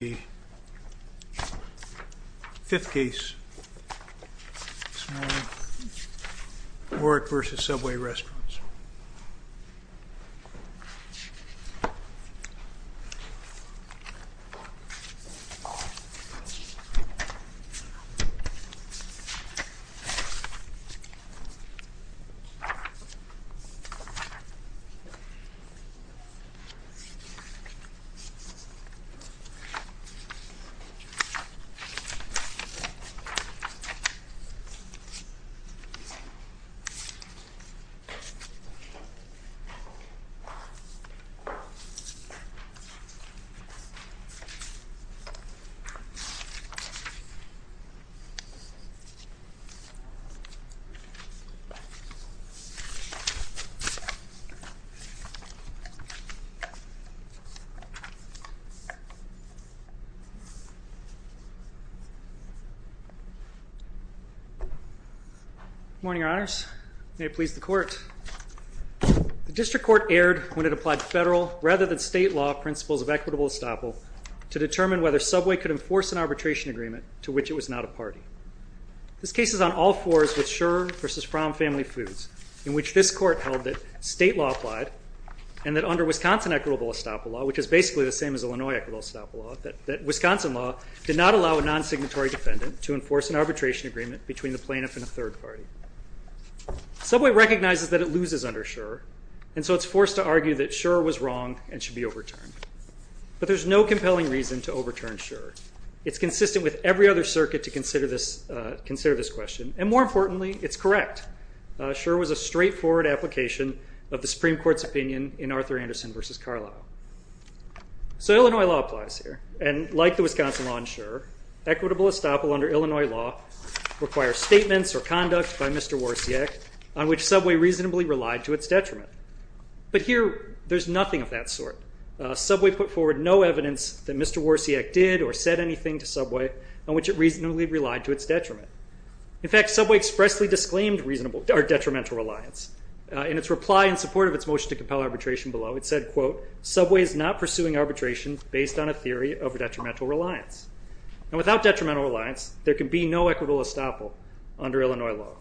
The 5th case this morning, Warwick v. Subway Restaurants. Warwick v. Subway Restaurants. Good morning, Your Honors. May it please the Court. The District Court erred when it applied federal rather than state law principles of equitable estoppel to determine whether Subway could enforce an arbitration agreement to which it was not a party. This case is on all fours with Scherer v. Fromm Family Foods in which this Court held that state law applied and that under Wisconsin equitable estoppel law, which is basically the same as Illinois equitable estoppel law, that Wisconsin law did not allow a non-signatory defendant to enforce an arbitration agreement between the plaintiff and a third party. Subway recognizes that it loses under Scherer, and so it's forced to argue that Scherer was wrong and should be overturned. But there's no compelling reason to overturn Scherer. It's consistent with every other circuit to consider this question, and more importantly, it's correct. Scherer was a straightforward application of the Supreme Court's opinion in Arthur Anderson v. Carlyle. So Illinois law applies here, and like the Wisconsin law in Scherer, equitable estoppel under Illinois law requires statements or conduct by Mr. Worsiak on which Subway reasonably relied to its detriment. But here there's nothing of that sort. Subway put forward no evidence that Mr. Worsiak did or said anything to Subway on which it reasonably relied to its detriment. In fact, Subway expressly disclaimed detrimental reliance. In its reply in support of its motion to compel arbitration below, it said, quote, Subway is not pursuing arbitration based on a theory of detrimental reliance. And without detrimental reliance, there can be no equitable estoppel under Illinois law.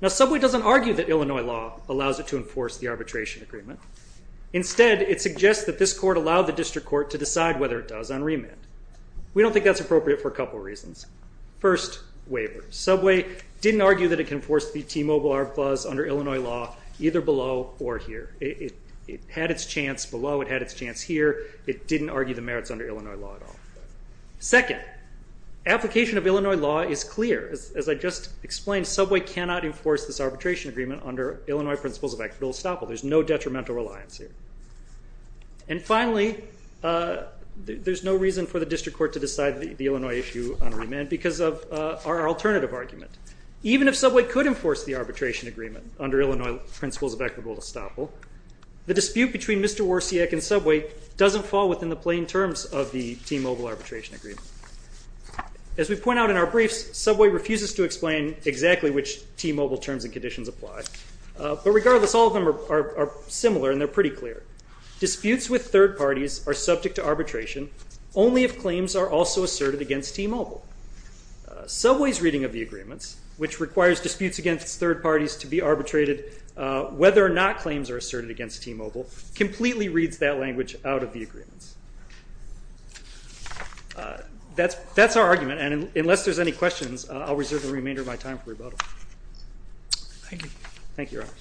Now Subway doesn't argue that Illinois law allows it to enforce the arbitration agreement. Instead, it suggests that this court allowed the district court to decide whether it does on remand. We don't think that's appropriate for a couple reasons. First, waiver. Subway didn't argue that it can enforce the T-Mobile Arbiters' Clause under Illinois law either below or here. It had its chance below. It had its chance here. It didn't argue the merits under Illinois law at all. Second, application of Illinois law is clear. As I just explained, Subway cannot enforce this arbitration agreement under Illinois principles of equitable estoppel. There's no detrimental reliance here. And finally, there's no reason for the district court to decide the Illinois issue on remand because of our alternative argument. Even if Subway could enforce the arbitration agreement under Illinois principles of equitable estoppel, the dispute between Mr. Worsiak and Subway doesn't fall within the plain terms of the T-Mobile Arbitration Agreement. As we point out in our briefs, Subway refuses to explain exactly which T-Mobile terms and conditions apply. But regardless, all of them are similar and they're pretty clear. Disputes with third parties are subject to arbitration only if claims are also asserted against T-Mobile. Subway's reading of the agreements, which requires disputes against third parties to be arbitrated whether or not claims are asserted against T-Mobile, completely reads that language out of the agreements. That's our argument, and unless there's any questions, I'll reserve the remainder of my time for rebuttal. Thank you. Thank you, Your Honors.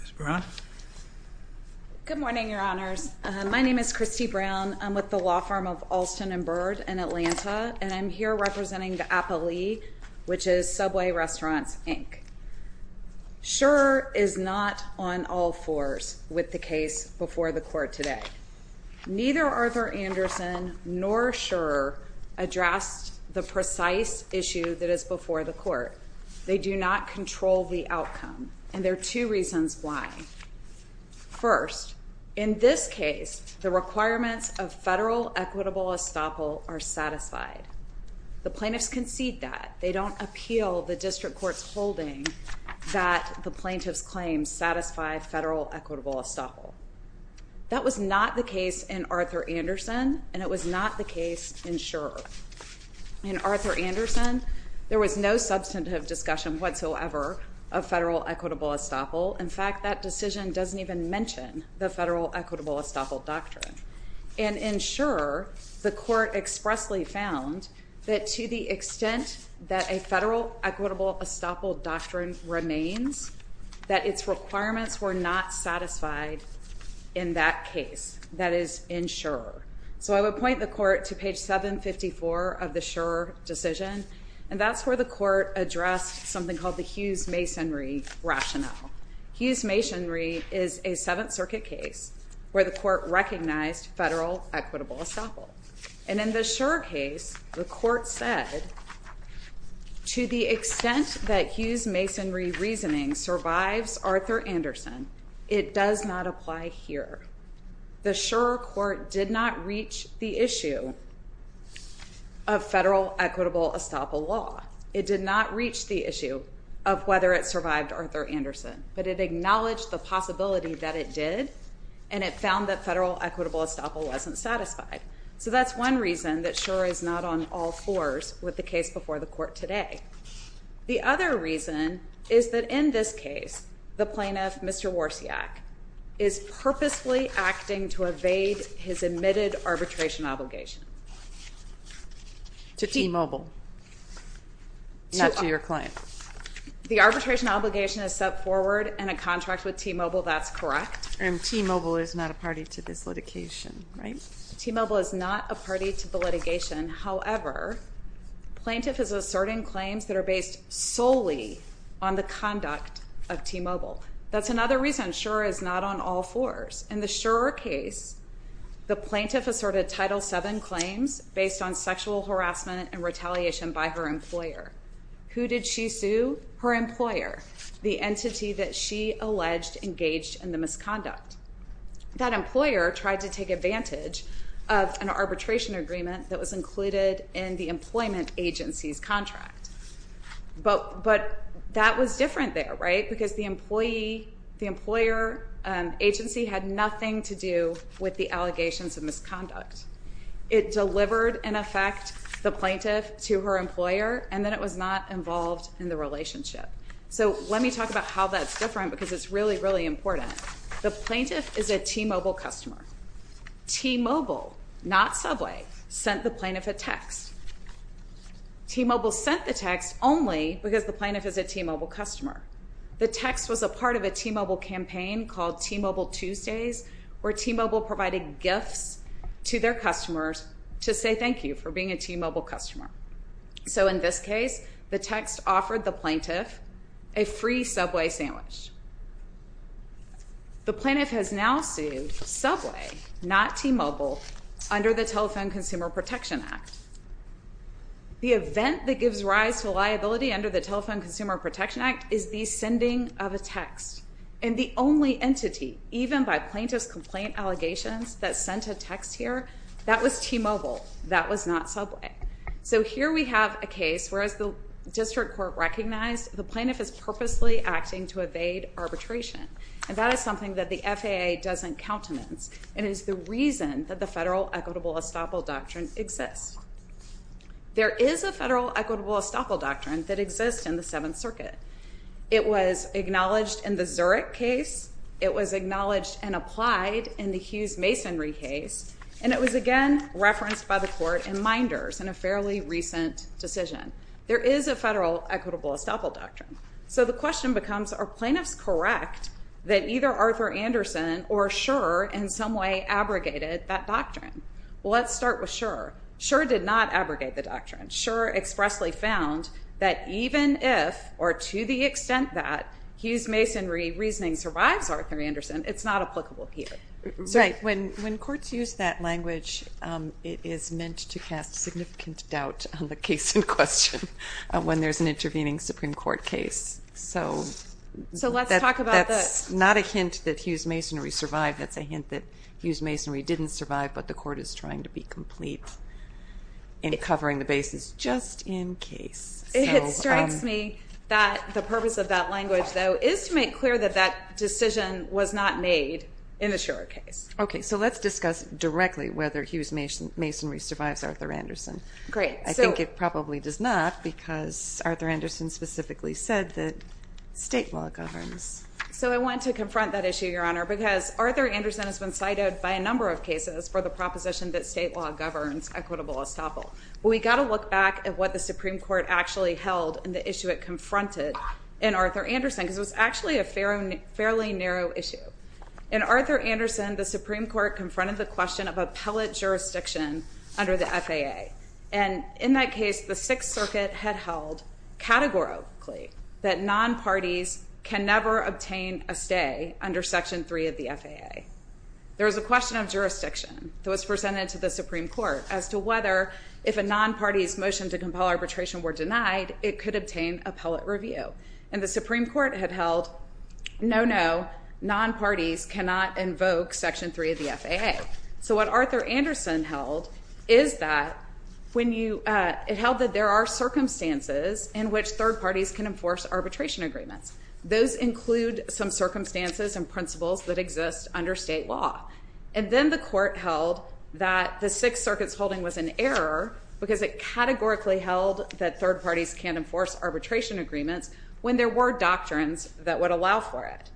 Ms. Brown? Good morning, Your Honors. My name is Christy Brown. I'm with the law firm of Alston & Byrd in Atlanta, and I'm here representing the APA League, which is Subway Restaurants, Inc. Scherer is not on all fours with the case before the court today. Neither Arthur Anderson nor Scherer addressed the precise issue that is before the court. They do not control the outcome, and there are two reasons why. First, in this case, the requirements of federal equitable estoppel are satisfied. The plaintiffs concede that. They don't appeal the district court's holding that the plaintiff's claims satisfy federal equitable estoppel. That was not the case in Arthur Anderson, and it was not the case in Scherer. In Arthur Anderson, there was no substantive discussion whatsoever of federal equitable estoppel. In fact, that decision doesn't even mention the federal equitable estoppel doctrine. In Scherer, the court expressly found that to the extent that a federal equitable estoppel doctrine remains, that its requirements were not satisfied in that case. That is in Scherer. So I would point the court to page 754 of the Scherer decision, and that's where the court addressed something called the Hughes-Masonry rationale. Hughes-Masonry is a Seventh Circuit case where the court recognized federal equitable estoppel. And in the Scherer case, the court said, to the extent that Hughes-Masonry reasoning survives Arthur Anderson, it does not apply here. The Scherer court did not reach the issue of federal equitable estoppel law. It did not reach the issue of whether it survived Arthur Anderson, but it acknowledged the possibility that it did, and it found that federal equitable estoppel wasn't satisfied. So that's one reason that Scherer is not on all fours with the case before the court today. The other reason is that in this case, the plaintiff, Mr. Worsiak, is purposefully acting to evade his admitted arbitration obligation. To T-Mobile, not to your client. The arbitration obligation is set forward in a contract with T-Mobile. That's correct. And T-Mobile is not a party to this litigation, right? T-Mobile is not a party to the litigation. However, plaintiff is asserting claims that are based solely on the conduct of T-Mobile. That's another reason Scherer is not on all fours. In the Scherer case, the plaintiff asserted Title VII claims based on sexual harassment and retaliation by her employer. Who did she sue? Her employer, the entity that she alleged engaged in the misconduct. That employer tried to take advantage of an arbitration agreement that was included in the employment agency's contract. But that was different there, right? Because the employer agency had nothing to do with the allegations of misconduct. It delivered, in effect, the plaintiff to her employer, and then it was not involved in the relationship. So let me talk about how that's different because it's really, really important. The plaintiff is a T-Mobile customer. T-Mobile, not Subway, sent the plaintiff a text. T-Mobile sent the text only because the plaintiff is a T-Mobile customer. The text was a part of a T-Mobile campaign called T-Mobile Tuesdays where T-Mobile provided gifts to their customers to say thank you for being a T-Mobile customer. So in this case, the text offered the plaintiff a free Subway sandwich. The plaintiff has now sued Subway, not T-Mobile, under the Telephone Consumer Protection Act. The event that gives rise to liability under the Telephone Consumer Protection Act is the sending of a text. And the only entity, even by plaintiff's complaint allegations, that sent a text here, that was T-Mobile. That was not Subway. So here we have a case where, as the district court recognized, the plaintiff is purposely acting to evade arbitration. And that is something that the FAA doesn't countenance and is the reason that the Federal Equitable Estoppel Doctrine exists. There is a Federal Equitable Estoppel Doctrine that exists in the Seventh Circuit. It was acknowledged in the Zurich case. It was acknowledged and applied in the Hughes-Masonry case. And it was, again, referenced by the court in minders in a fairly recent decision. There is a Federal Equitable Estoppel Doctrine. So the question becomes, are plaintiffs correct that either Arthur Anderson or Schur, in some way, abrogated that doctrine? Well, let's start with Schur. Schur did not abrogate the doctrine. Schur expressly found that even if, or to the extent that, Hughes-Masonry reasoning survives Arthur Anderson, it's not applicable here. When courts use that language, it is meant to cast significant doubt on the case in question when there's an intervening Supreme Court case. So that's not a hint that Hughes-Masonry survived. That's a hint that Hughes-Masonry didn't survive, but the court is trying to be complete in covering the basis just in case. So it is to make clear that that decision was not made in the Schur case. OK, so let's discuss directly whether Hughes-Masonry survives Arthur Anderson. Great. I think it probably does not, because Arthur Anderson specifically said that state law governs. So I want to confront that issue, Your Honor, because Arthur Anderson has been cited by a number of cases for the proposition that state law governs equitable estoppel. We've got to look back at what the Supreme Court actually held and the issue it confronted in Arthur Anderson, because it was actually a fairly narrow issue. In Arthur Anderson, the Supreme Court confronted the question of appellate jurisdiction under the FAA. And in that case, the Sixth Circuit had held categorically that non-parties can never obtain a stay under Section 3 of the FAA. There was a question of jurisdiction that was presented to the Supreme Court as to whether, if a non-party's motion to compel arbitration were denied, it could obtain appellate review. And the Supreme Court had held, no, no, non-parties cannot invoke Section 3 of the FAA. So what Arthur Anderson held is that there are circumstances in which third parties can enforce arbitration agreements. Those include some circumstances and principles that exist under state law. And then the Court held that the Sixth Circuit's holding was an error because it categorically held that third parties can't enforce arbitration agreements when there were doctrines that would allow for it.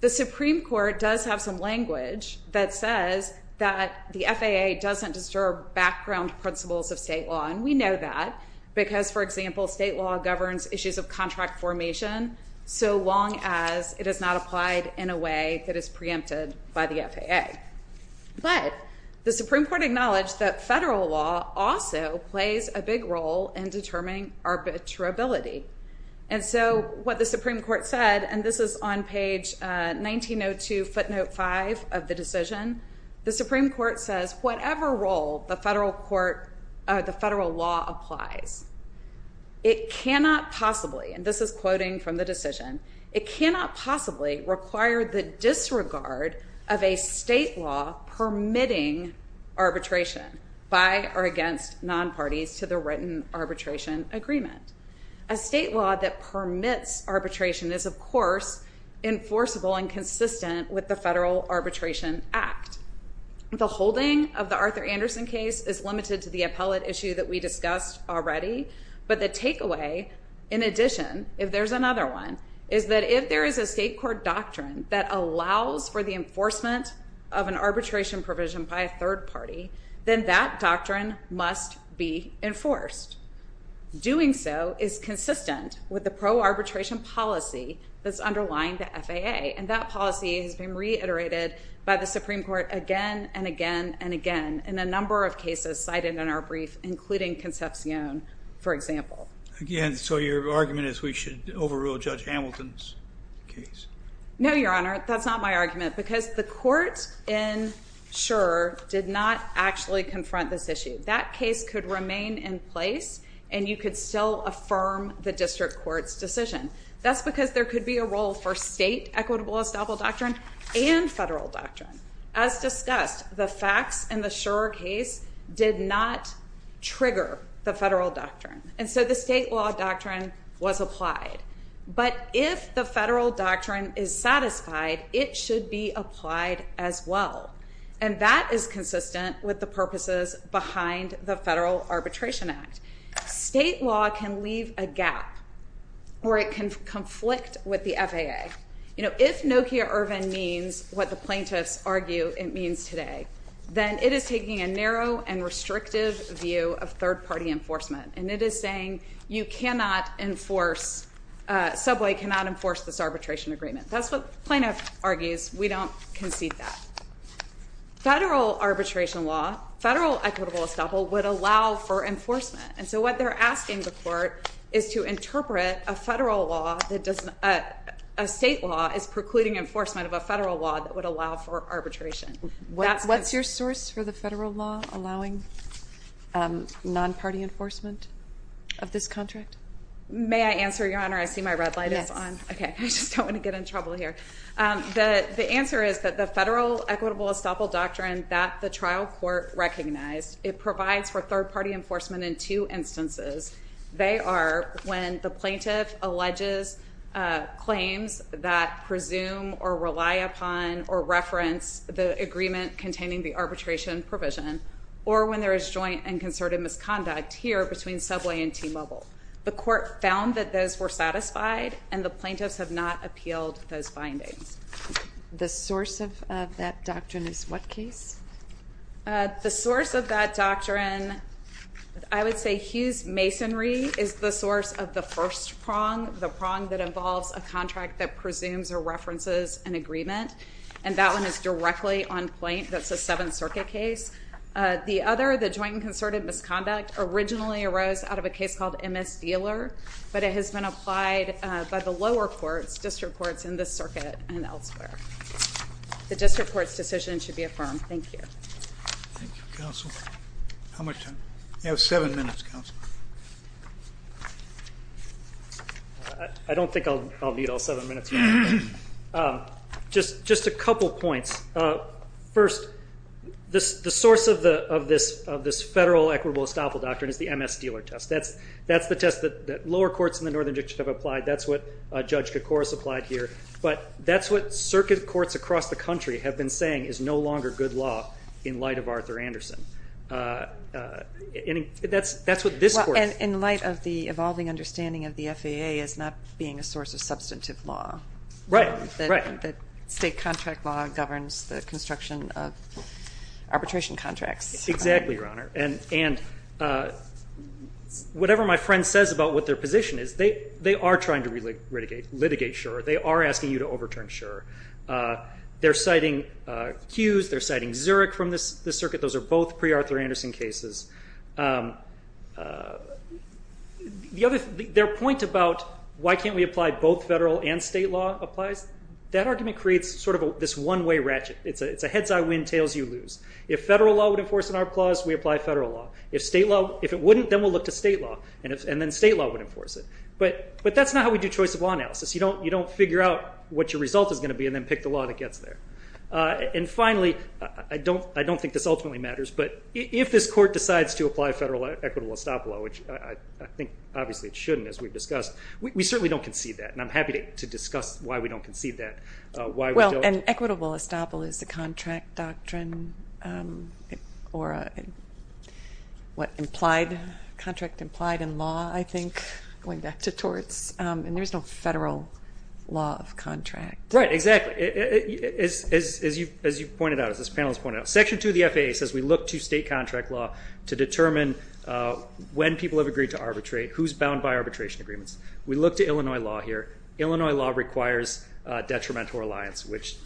The Supreme Court does have some language that says that the FAA doesn't disturb background principles of state law. And we know that because, for example, state law governs issues of contract formation so long as it is not applied in a way that is preempted by the FAA. But the Supreme Court acknowledged that federal law also plays a big role in determining arbitrability. And so what the Supreme Court said, and this is on page 1902 footnote 5 of the decision, the Supreme Court says whatever role the federal law applies, it cannot possibly, and this is quoting from the decision, it cannot possibly require the disregard of a state law permitting arbitration by or against non-parties to the written arbitration agreement. A state law that permits arbitration is, of course, enforceable and consistent with the Federal Arbitration Act. The holding of the Arthur Anderson case is limited to the appellate issue that we discussed already, but the takeaway, in addition, if there's another one, is that if there is a state court doctrine that allows for the enforcement of an arbitration provision by a third party, then that doctrine must be enforced. Doing so is consistent with the pro-arbitration policy that's underlying the FAA, and that policy has been reiterated by the Supreme Court again and again and again in a number of cases cited in our brief, including Concepcion, for example. Again, so your argument is we should overrule Judge Hamilton's case? No, Your Honor, that's not my argument, because the court in Shurer did not actually confront this issue. That case could remain in place, and you could still affirm the district court's decision. That's because there could be a role for state equitable estoppel doctrine and federal doctrine. As discussed, the facts in the Shurer case did not trigger the federal doctrine, and so the state law doctrine was applied. But if the federal doctrine is satisfied, it should be applied as well, and that is consistent with the purposes behind the Federal Arbitration Act. State law can leave a gap, or it can conflict with the FAA. If Nokia Irvin means what the plaintiffs argue it means today, then it is taking a narrow and restrictive view of third-party enforcement, and it is saying you cannot enforce, subway cannot enforce this arbitration agreement. That's what the plaintiff argues. We don't concede that. Federal arbitration law, federal equitable estoppel, would allow for enforcement, and so what they're asking the court is to interpret a federal law that doesn't... A state law is precluding enforcement of a federal law that would allow for arbitration. What's your source for the federal law allowing non-party enforcement of this contract? May I answer, Your Honor? I see my red light is on. I just don't want to get in trouble here. The answer is that the federal equitable estoppel doctrine that the trial court recognized, it provides for third-party enforcement in two instances. They are when the plaintiff alleges claims that presume or rely upon or reference the agreement containing the arbitration provision, or when there is joint and concerted misconduct here between subway and T-Mobile. The court found that those were satisfied, and the plaintiffs have not appealed those findings. The source of that doctrine is what case? The source of that doctrine... I would say Hughes Masonry is the source of the first prong, the prong that involves a contract that presumes or references an agreement, and that one is directly on point. That's a Seventh Circuit case. The other, the joint and concerted misconduct, originally arose out of a case called MS Dealer, but it has been applied by the lower courts, district courts in this circuit and elsewhere. The district court's decision should be affirmed. Thank you. Thank you, counsel. How much time? You have seven minutes, counsel. I don't think I'll need all seven minutes. Just a couple points. First, the source of this federal equitable estoppel doctrine is the MS Dealer test. That's the test that lower courts in the Northern District have applied. That's what Judge Koukouras applied here. But that's what circuit courts across the country have been saying is no longer good law in light of Arthur Anderson. That's what this court... In light of the evolving understanding of the FAA as not being a source of substantive law. Right. The state contract law governs the construction of arbitration contracts. Exactly, Your Honor. And whatever my friend says about what their position is, they are trying to litigate Schur. They are asking you to overturn Schur. They're citing Hughes. They're citing Zurich from this circuit. Those are both pre-Arthur Anderson cases. Their point about why can't we apply both federal and state law applies, that argument creates sort of this one-way ratchet. It's a heads-I-win, tails-you-lose. If federal law would enforce an ARP clause, we apply federal law. If it wouldn't, then we'll look to state law, and then state law would enforce it. But that's not how we do choice of law analysis. You don't figure out what your result is going to be and then pick the law that gets there. And finally, I don't think this ultimately matters, but if this court decides to apply federal equitable estoppel, which I think obviously it shouldn't, as we've discussed, we certainly don't concede that, and I'm happy to discuss why we don't concede that. Well, an equitable estoppel is a contract doctrine or a contract implied in law, I think, going back to torts, and there's no federal law of contract. Right, exactly. As you've pointed out, as this panel has pointed out, Section 2 of the FAA says we look to state contract law to determine when people have agreed to arbitrate, who's bound by arbitration agreements. We look to Illinois law here. Illinois law requires detrimental reliance, which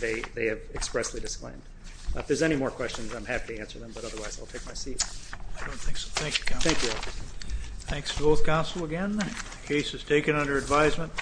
they have expressly disclaimed. If there's any more questions, I'm happy to answer them, but otherwise I'll take my seat. I don't think so. Thank you, counsel. Thank you. Thanks to both counsel again. The case is taken under advisement.